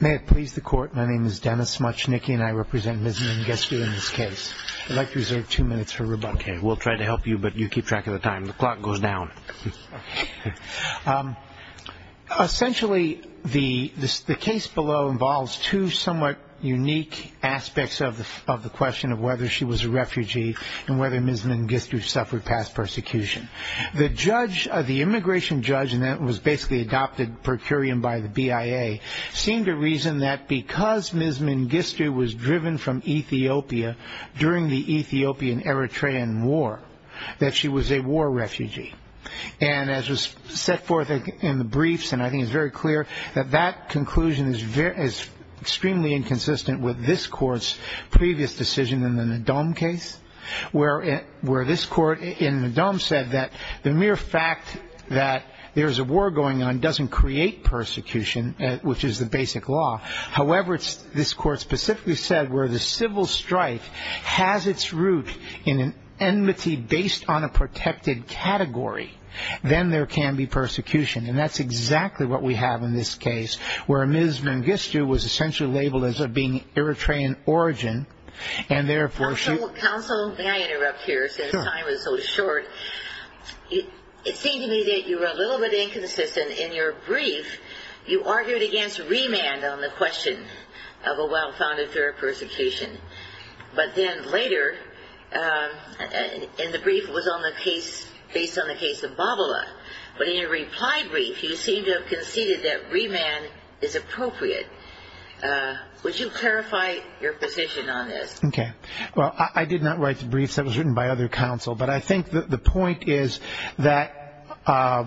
May it please the court, my name is Dennis Smuchnicki and I represent Ms. Mengistu in this case. I'd like to reserve two minutes for rebuttal. Okay, we'll try to help you, but you keep track of the time. The clock goes down. Essentially, the case below involves two somewhat unique aspects of the question of whether she was a refugee and whether Ms. Mengistu suffered past persecution. The immigration judge, and that was basically adopted per curiam by the BIA, seemed to reason that because Ms. Mengistu was driven from Ethiopia during the Ethiopian-Eritrean War, that she was a war refugee. And as was set forth in the briefs, and I think it's very clear, that that conclusion is extremely inconsistent with this court's previous decision in the Ndome case, where this court in the Ndome said that the mere fact that there's a war going on doesn't create persecution, which is the basic law. However, this court specifically said where the civil strike has its root in an enmity based on a protected category, then there can be persecution. And that's exactly what we have in this case, where Ms. Mengistu was essentially labeled as being Eritrean origin, and therefore she- Counsel, may I interrupt here since time is so short? It seemed to me that you were a little bit inconsistent. In your brief, you argued against remand on the question of a well-founded fear of persecution. But then later, in the brief, it was based on the case of Babala. But in your reply brief, you seemed to have conceded that remand is appropriate. Would you clarify your position on this? Okay. Well, I did not write the brief. That was written by other counsel. But I think the point is that I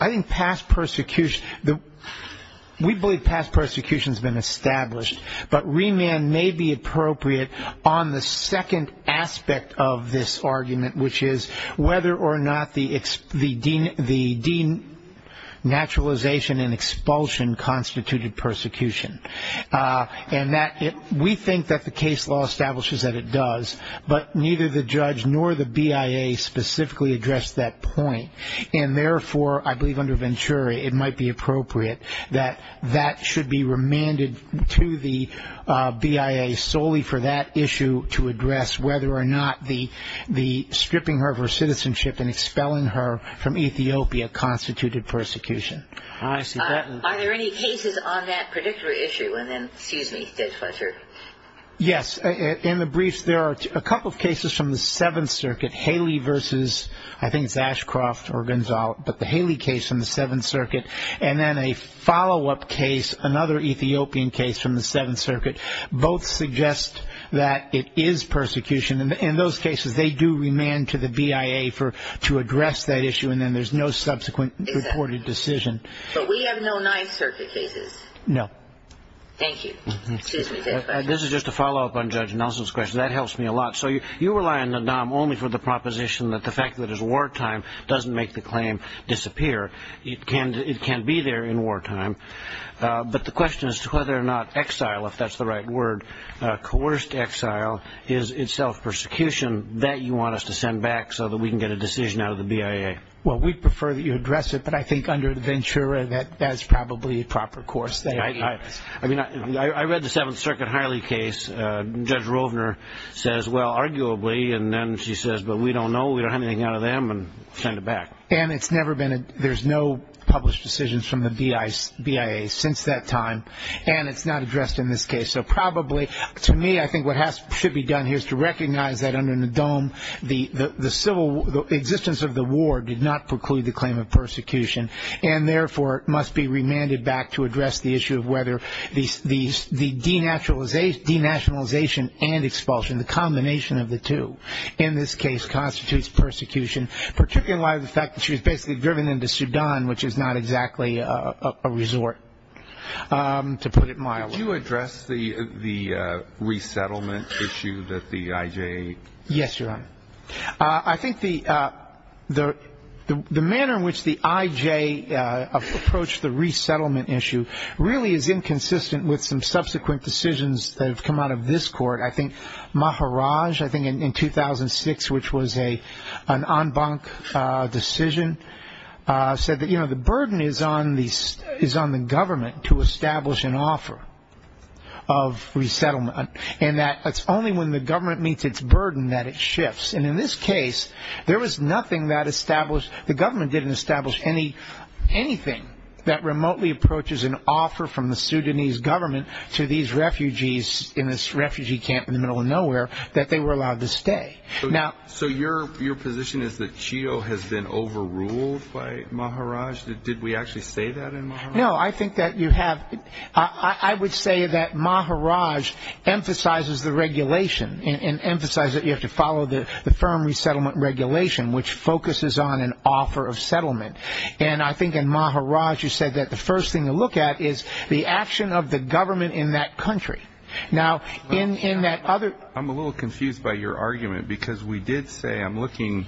think past persecution-we believe past persecution has been established, but remand may be appropriate on the second aspect of this argument, which is whether or not the denaturalization and expulsion constituted persecution. And we think that the case law establishes that it does, but neither the judge nor the BIA specifically addressed that point. And therefore, I believe under Venturi, it might be appropriate that that should be remanded to the BIA solely for that issue to address whether or not the stripping her of her citizenship and expelling her from Ethiopia constituted persecution. I see that. Are there any cases on that particular issue? And then, excuse me, Judge Fletcher. Yes. In the briefs, there are a couple of cases from the Seventh Circuit, Haley v. I think it's Ashcroft or Gonzalo, but the Haley case from the Seventh Circuit, and then a follow-up case, another Ethiopian case from the Seventh Circuit. Both suggest that it is persecution. In those cases, they do remand to the BIA to address that issue, and then there's no subsequent reported decision. But we have no Ninth Circuit cases. No. Thank you. Excuse me, Judge Fletcher. This is just a follow-up on Judge Nelson's question. That helps me a lot. So you rely on the DOM only for the proposition that the fact that it's wartime doesn't make the claim disappear. It can be there in wartime. But the question is whether or not exile, if that's the right word, coerced exile, is itself persecution that you want us to send back so that we can get a decision out of the BIA. Well, we'd prefer that you address it, but I think under Ventura, that's probably a proper course. I mean, I read the Seventh Circuit Haley case. Judge Rovner says, well, arguably, and then she says, but we don't know. We don't have anything out of them, and send it back. And there's no published decisions from the BIA since that time, and it's not addressed in this case. So probably, to me, I think what should be done here is to recognize that under the DOM, the existence of the war did not preclude the claim of persecution, and therefore it must be remanded back to address the issue of whether the denationalization and expulsion, the combination of the two, in this case constitutes persecution, particularly in light of the fact that she was basically driven into Sudan, which is not exactly a resort, to put it mildly. Did you address the resettlement issue that the IJ? Yes, Your Honor. I think the manner in which the IJ approached the resettlement issue really is inconsistent with some subsequent decisions that have come out of this court. I think Maharaj, I think in 2006, which was an en banc decision, said that the burden is on the government to establish an offer of resettlement, and that it's only when the government meets its burden that it shifts. And in this case, there was nothing that established the government didn't establish anything that remotely approaches an offer from the Sudanese government to these refugees in this refugee camp in the middle of nowhere that they were allowed to stay. So your position is that CHIO has been overruled by Maharaj? Did we actually say that in Maharaj? No, I think that you have. I would say that Maharaj emphasizes the regulation and emphasizes that you have to follow the firm resettlement regulation, which focuses on an offer of settlement. And I think in Maharaj you said that the first thing to look at is the action of the government in that country. Now, in that other ---- I'm a little confused by your argument, because we did say, I'm looking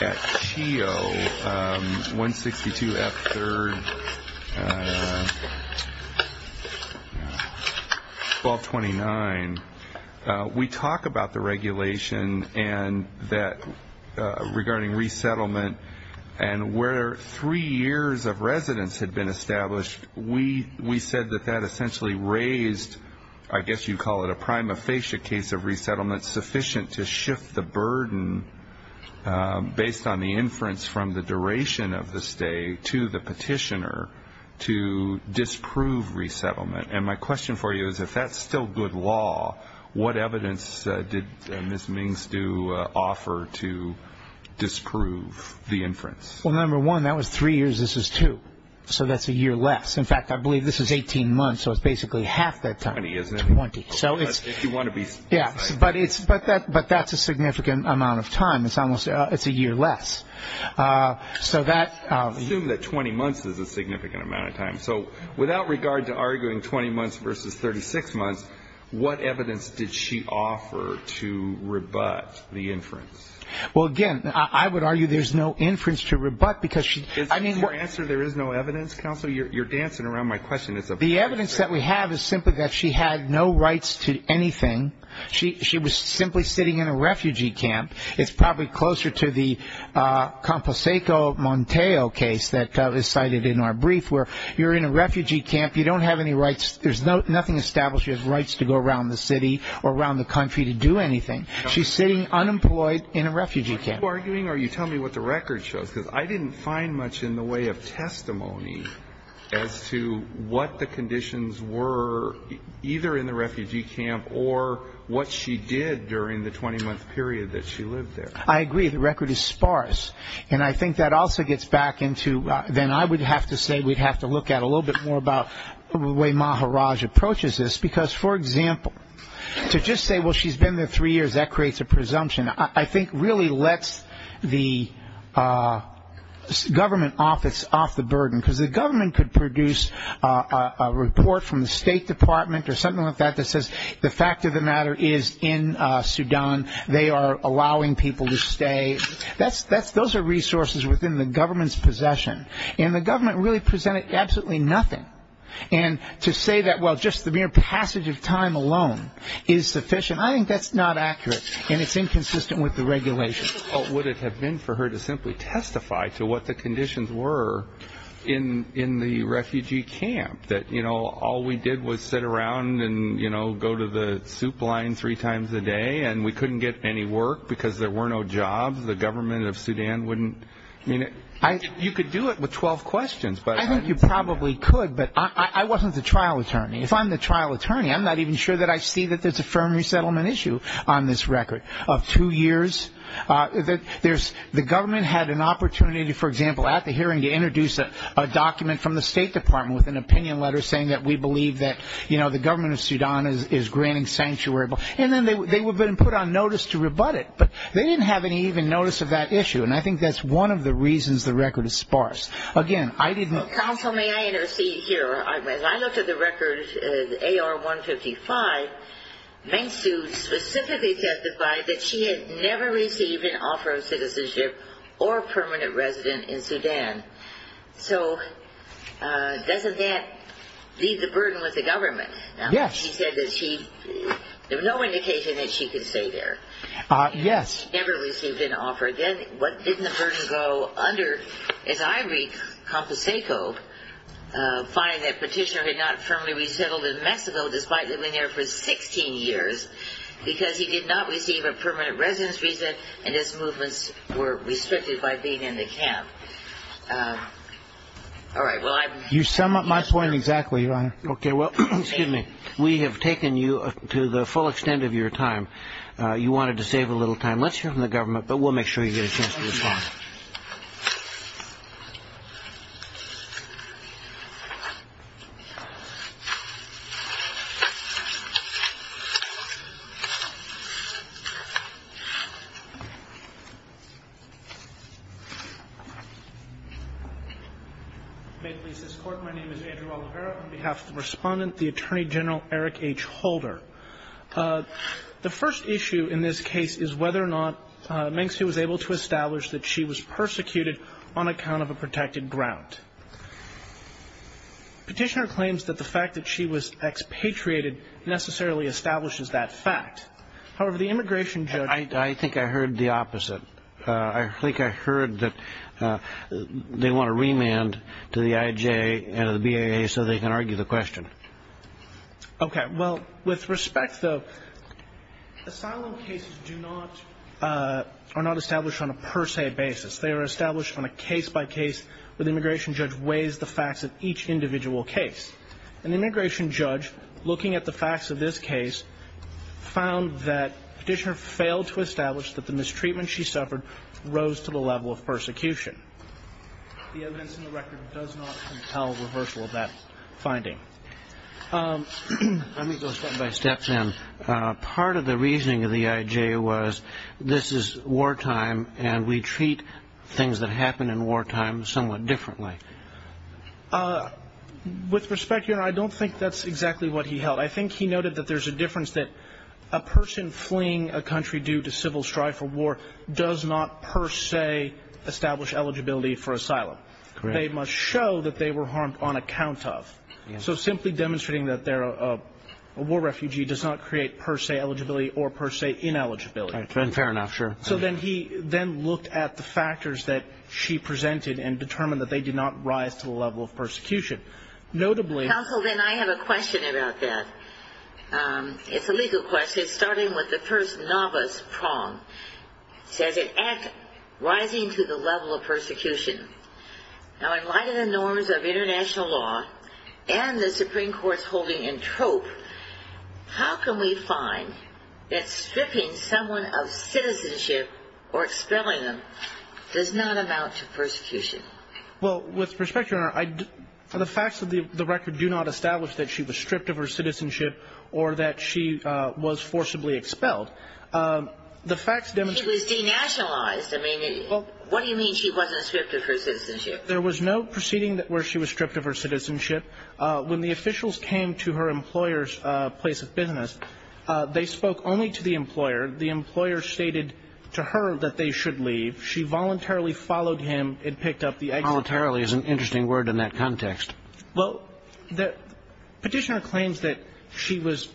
at CHIO 162F3, 1229. We talk about the regulation and that regarding resettlement and where three years of residence had been established, we said that that essentially raised, I guess you'd call it a prima facie case of resettlement, sufficient to shift the burden based on the inference from the duration of the stay to the petitioner to disprove resettlement. And my question for you is, if that's still good law, what evidence did Ms. Mings do offer to disprove the inference? Well, number one, that was three years. This is two. So that's a year less. In fact, I believe this is 18 months, so it's basically half that time. Twenty, isn't it? Twenty. If you want to be precise. Yeah, but that's a significant amount of time. It's a year less. Assume that 20 months is a significant amount of time. So without regard to arguing 20 months versus 36 months, what evidence did she offer to rebut the inference? Well, again, I would argue there's no inference to rebut because she's ‑‑ Is your answer there is no evidence, counsel? You're dancing around my question. The evidence that we have is simply that she had no rights to anything. She was simply sitting in a refugee camp. It's probably closer to the Composeco Monteo case that was cited in our brief where you're in a refugee camp. You don't have any rights. There's nothing established. You have rights to go around the city or around the country to do anything. She's sitting unemployed in a refugee camp. Are you arguing or are you telling me what the record shows? Because I didn't find much in the way of testimony as to what the conditions were either in the refugee camp or what she did during the 20‑month period that she lived there. I agree. The record is sparse. And I think that also gets back into then I would have to say we'd have to look at a little bit more about the way Maharaj approaches this. Because, for example, to just say, well, she's been there three years, that creates a presumption. I think really lets the government office off the burden because the government could produce a report from the State Department or something like that that says the fact of the matter is in Sudan. They are allowing people to stay. Those are resources within the government's possession. And the government really presented absolutely nothing. And to say that, well, just the mere passage of time alone is sufficient, I think that's not accurate. And it's inconsistent with the regulations. What would it have been for her to simply testify to what the conditions were in the refugee camp, that all we did was sit around and go to the soup line three times a day and we couldn't get any work because there were no jobs? The government of Sudan wouldn't ‑‑ you could do it with 12 questions. I think you probably could, but I wasn't the trial attorney. If I'm the trial attorney, I'm not even sure that I see that there's a firm resettlement issue on this record of two years. The government had an opportunity, for example, at the hearing to introduce a document from the State Department with an opinion letter saying that we believe that the government of Sudan is granting sanctuary. And then they would have been put on notice to rebut it. But they didn't have any even notice of that issue. And I think that's one of the reasons the record is sparse. Again, I didn't ‑‑ Counsel, may I intercede here? I looked at the record, AR-155. Meng Siu specifically testified that she had never received an offer of citizenship or a permanent resident in Sudan. So doesn't that leave the burden with the government? Yes. She said that she ‑‑ there was no indication that she could stay there. Yes. Never received an offer. Then what didn't the burden go under is Ivory Composeco finding that Petitioner had not firmly resettled in Mexico despite living there for 16 years because he did not receive a permanent residence visa and his movements were restricted by being in the camp. All right. You sum up my point exactly, Your Honor. Okay. Well, excuse me. We have taken you to the full extent of your time. You wanted to save a little time. Let's hear from the government, but we'll make sure you get a chance to respond. May it please this Court, my name is Andrew Oliveira. On behalf of the Respondent, the Attorney General Eric H. Holder. The first issue in this case is whether or not Meng Siu was able to establish that she was persecuted on account of a protected ground. Petitioner claims that the fact that she was expatriated necessarily establishes that fact. However, the immigration judge ‑‑ I think I heard the opposite. I think I heard that they want a remand to the IJ and to the BIA so they can argue the question. Okay. Well, with respect, though, asylum cases are not established on a per se basis. They are established on a case-by-case where the immigration judge weighs the facts of each individual case. And the immigration judge, looking at the facts of this case, found that Petitioner failed to establish that the mistreatment she suffered rose to the level of persecution. The evidence in the record does not compel reversal of that finding. Let me go step by step then. Part of the reasoning of the IJ was this is wartime and we treat things that happen in wartime somewhat differently. With respect, Your Honor, I don't think that's exactly what he held. I think he noted that there's a difference that a person fleeing a country due to civil strife or war does not per se establish eligibility for asylum. Correct. They must show that they were harmed on account of. So simply demonstrating that they're a war refugee does not create per se eligibility or per se ineligibility. Fair enough, sure. So then he then looked at the factors that she presented and determined that they did not rise to the level of persecution. Counsel, then I have a question about that. It's a legal question starting with the first novice prong. It says it rises to the level of persecution. Now, in light of the norms of international law and the Supreme Court's holding in trope, how can we find that stripping someone of citizenship or expelling them does not amount to persecution? Well, with respect, Your Honor, the facts of the record do not establish that she was stripped of her citizenship or that she was forcibly expelled. It was denationalized. I mean, what do you mean she wasn't stripped of her citizenship? There was no proceeding where she was stripped of her citizenship. When the officials came to her employer's place of business, they spoke only to the employer. The employer stated to her that they should leave. She voluntarily followed him and picked up the exile. Voluntarily is an interesting word in that context. Well, the petitioner claims that she was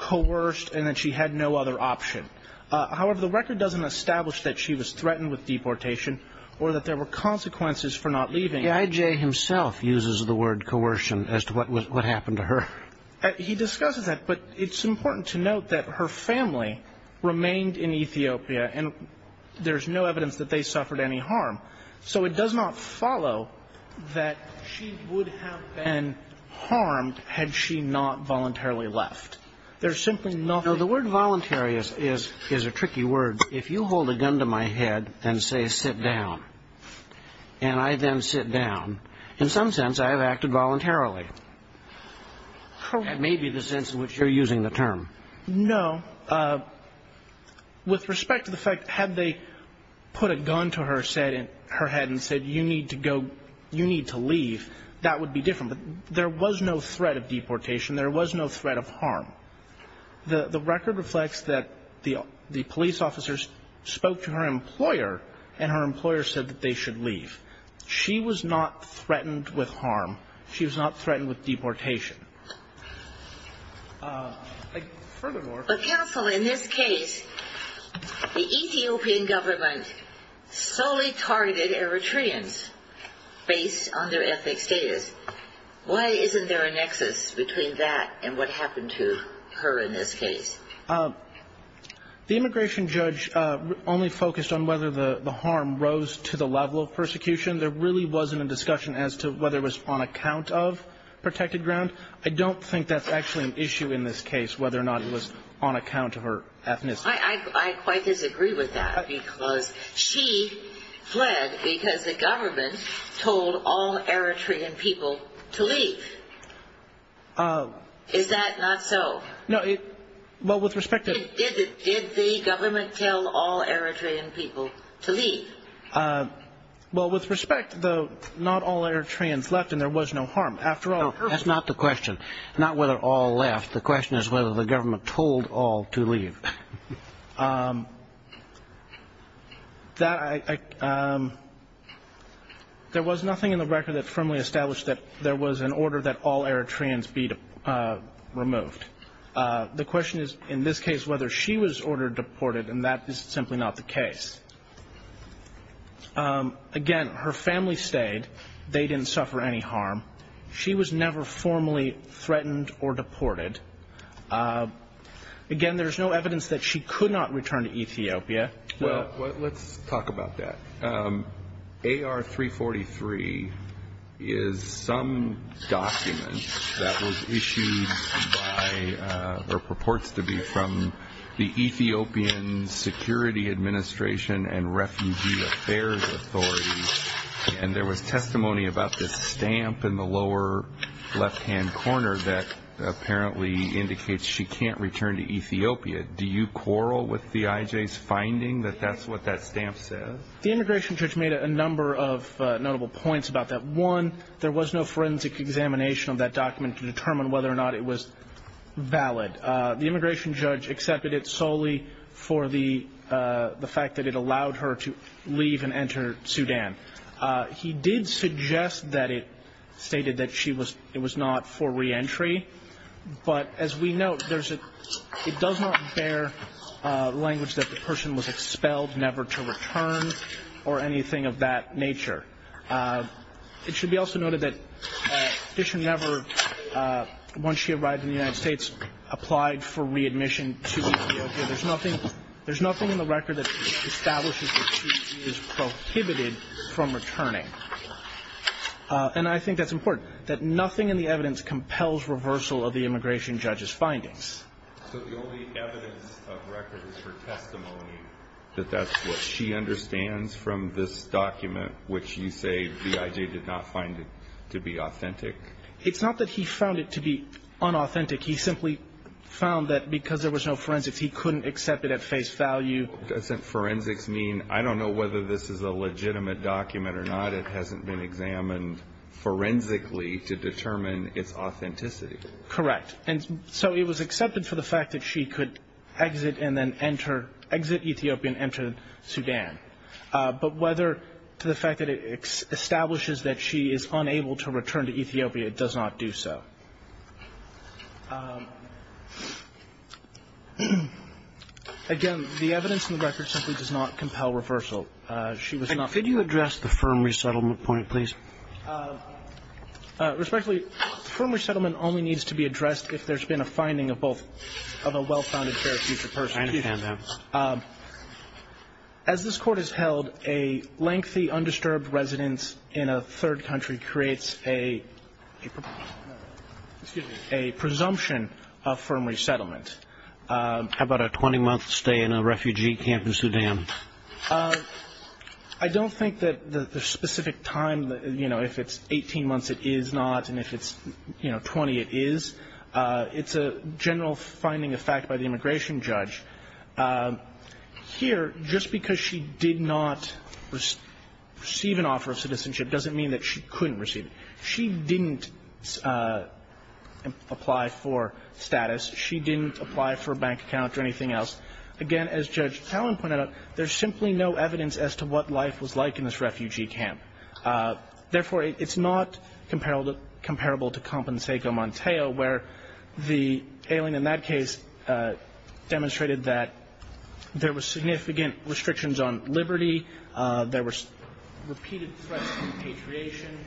coerced and that she had no other option. However, the record doesn't establish that she was threatened with deportation or that there were consequences for not leaving. The IJ himself uses the word coercion as to what happened to her. He discusses that, but it's important to note that her family remained in Ethiopia, and there's no evidence that they suffered any harm. So it does not follow that she would have been harmed had she not voluntarily left. There's simply nothing. Now, the word voluntary is a tricky word. If you hold a gun to my head and say, sit down, and I then sit down, in some sense I have acted voluntarily. Correct. That may be the sense in which you're using the term. No. With respect to the fact, had they put a gun to her head and said, you need to go, you need to leave, that would be different. But there was no threat of deportation. There was no threat of harm. The record reflects that the police officer spoke to her employer, and her employer said that they should leave. She was not threatened with harm. She was not threatened with deportation. But, counsel, in this case, the Ethiopian government solely targeted Eritreans based on their ethnic status. Why isn't there a nexus between that and what happened to her in this case? The immigration judge only focused on whether the harm rose to the level of persecution. There really wasn't a discussion as to whether it was on account of protected ground. I don't think that's actually an issue in this case, whether or not it was on account of her ethnicity. I quite disagree with that, because she fled because the government told all Eritrean people to leave. Is that not so? No. Well, with respect to the... Did the government tell all Eritrean people to leave? Well, with respect, not all Eritreans left, and there was no harm. After all... That's not the question, not whether all left. The question is whether the government told all to leave. There was nothing in the record that firmly established that there was an order that all Eritreans be removed. The question is, in this case, whether she was ordered deported, and that is simply not the case. Again, her family stayed. They didn't suffer any harm. She was never formally threatened or deported. Again, there's no evidence that she could not return to Ethiopia. Well, let's talk about that. AR-343 is some document that was issued by or purports to be from the Ethiopian Security Administration and Refugee Affairs Authority, and there was testimony about this stamp in the lower left-hand corner that apparently indicates she can't return to Ethiopia. Do you quarrel with the IJ's finding that that's what that stamp says? The immigration judge made a number of notable points about that. One, there was no forensic examination of that document to determine whether or not it was valid. The immigration judge accepted it solely for the fact that it allowed her to leave and enter Sudan. He did suggest that it stated that it was not for reentry, but as we note, it does not bear language that the person was expelled, never to return, or anything of that nature. It should be also noted that Dishon never, once she arrived in the United States, applied for readmission to Ethiopia. There's nothing in the record that establishes that she is prohibited from returning, and I think that's important, that nothing in the evidence compels reversal of the immigration judge's findings. So the only evidence of record is her testimony that that's what she understands from this document, which you say the IJ did not find it to be authentic? It's not that he found it to be unauthentic. He simply found that because there was no forensics, he couldn't accept it at face value. Doesn't forensics mean, I don't know whether this is a legitimate document or not, it hasn't been examined forensically to determine its authenticity? Correct. And so it was accepted for the fact that she could exit and then enter, exit Ethiopia and enter Sudan, but whether to the fact that it establishes that she is unable to return to Ethiopia, it does not do so. Again, the evidence in the record simply does not compel reversal. She was not ---- Could you address the firm resettlement point, please? Respectfully, the firm resettlement only needs to be addressed if there's been a finding of both, of a well-founded chair of future persecution. I understand that. As this Court has held, a lengthy undisturbed residence in a third country creates a presumption of firm resettlement. How about a 20-month stay in a refugee camp in Sudan? I don't think that the specific time, you know, if it's 18 months, it is not, and if it's, you know, 20, it is. It's a general finding of fact by the immigration judge. Here, just because she did not receive an offer of citizenship doesn't mean that she couldn't receive it. She didn't apply for status. She didn't apply for a bank account or anything else. Again, as Judge Talen pointed out, there's simply no evidence as to what life was like in this refugee camp. Therefore, it's not comparable to Compensaco-Monteo, where the ailing in that case demonstrated that there were significant restrictions on liberty, there were repeated threats of repatriation.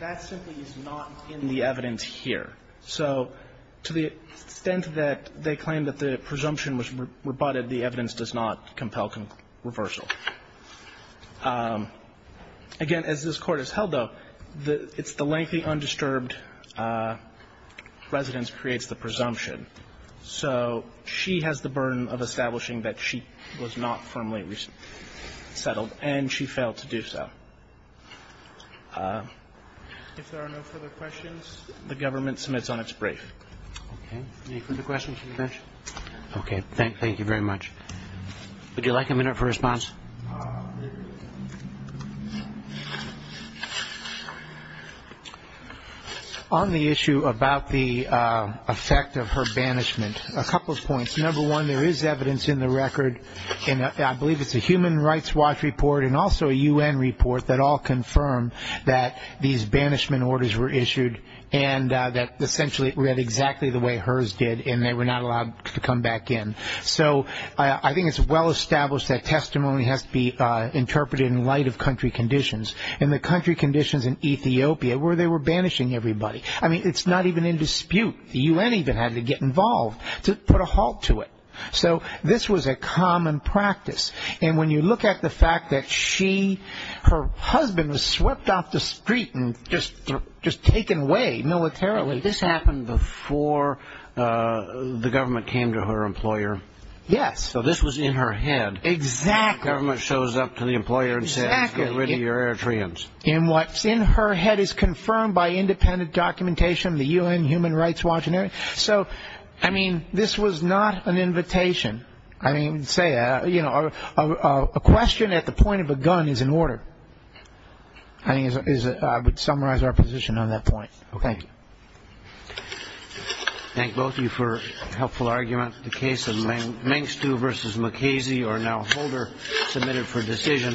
That simply is not in the evidence here. So to the extent that they claim that the presumption was rebutted, the evidence does not compel reversal. Again, as this Court has held, though, it's the lengthy undisturbed residence creates the presumption. So she has the burden of establishing that she was not firmly resettled, and she failed to do so. If there are no further questions, the government submits on its brief. Okay. Any further questions from the bench? Okay. Thank you very much. Would you like a minute for response? On the issue about the effect of her banishment, a couple of points. Number one, there is evidence in the record, and I believe it's a Human Rights Watch report and also a U.N. report that all confirm that these banishment orders were issued and that essentially it read exactly the way hers did, and they were not allowed to come back in. So I think it's well established that testimony has to be interpreted in light of country conditions, and the country conditions in Ethiopia where they were banishing everybody. I mean, it's not even in dispute. The U.N. even had to get involved to put a halt to it. So this was a common practice, and when you look at the fact that she, her husband, was swept off the street and just taken away militarily. This happened before the government came to her employer. Yes. So this was in her head. Exactly. The government shows up to the employer and says, get rid of your Eritreans. And what's in her head is confirmed by independent documentation of the U.N. Human Rights Watch. So, I mean, this was not an invitation. I mean, a question at the point of a gun is an order. I would summarize our position on that point. Thank you. Thank both of you for a helpful argument. The case of Mengstu v. McKasey, or now Holder, submitted for decision.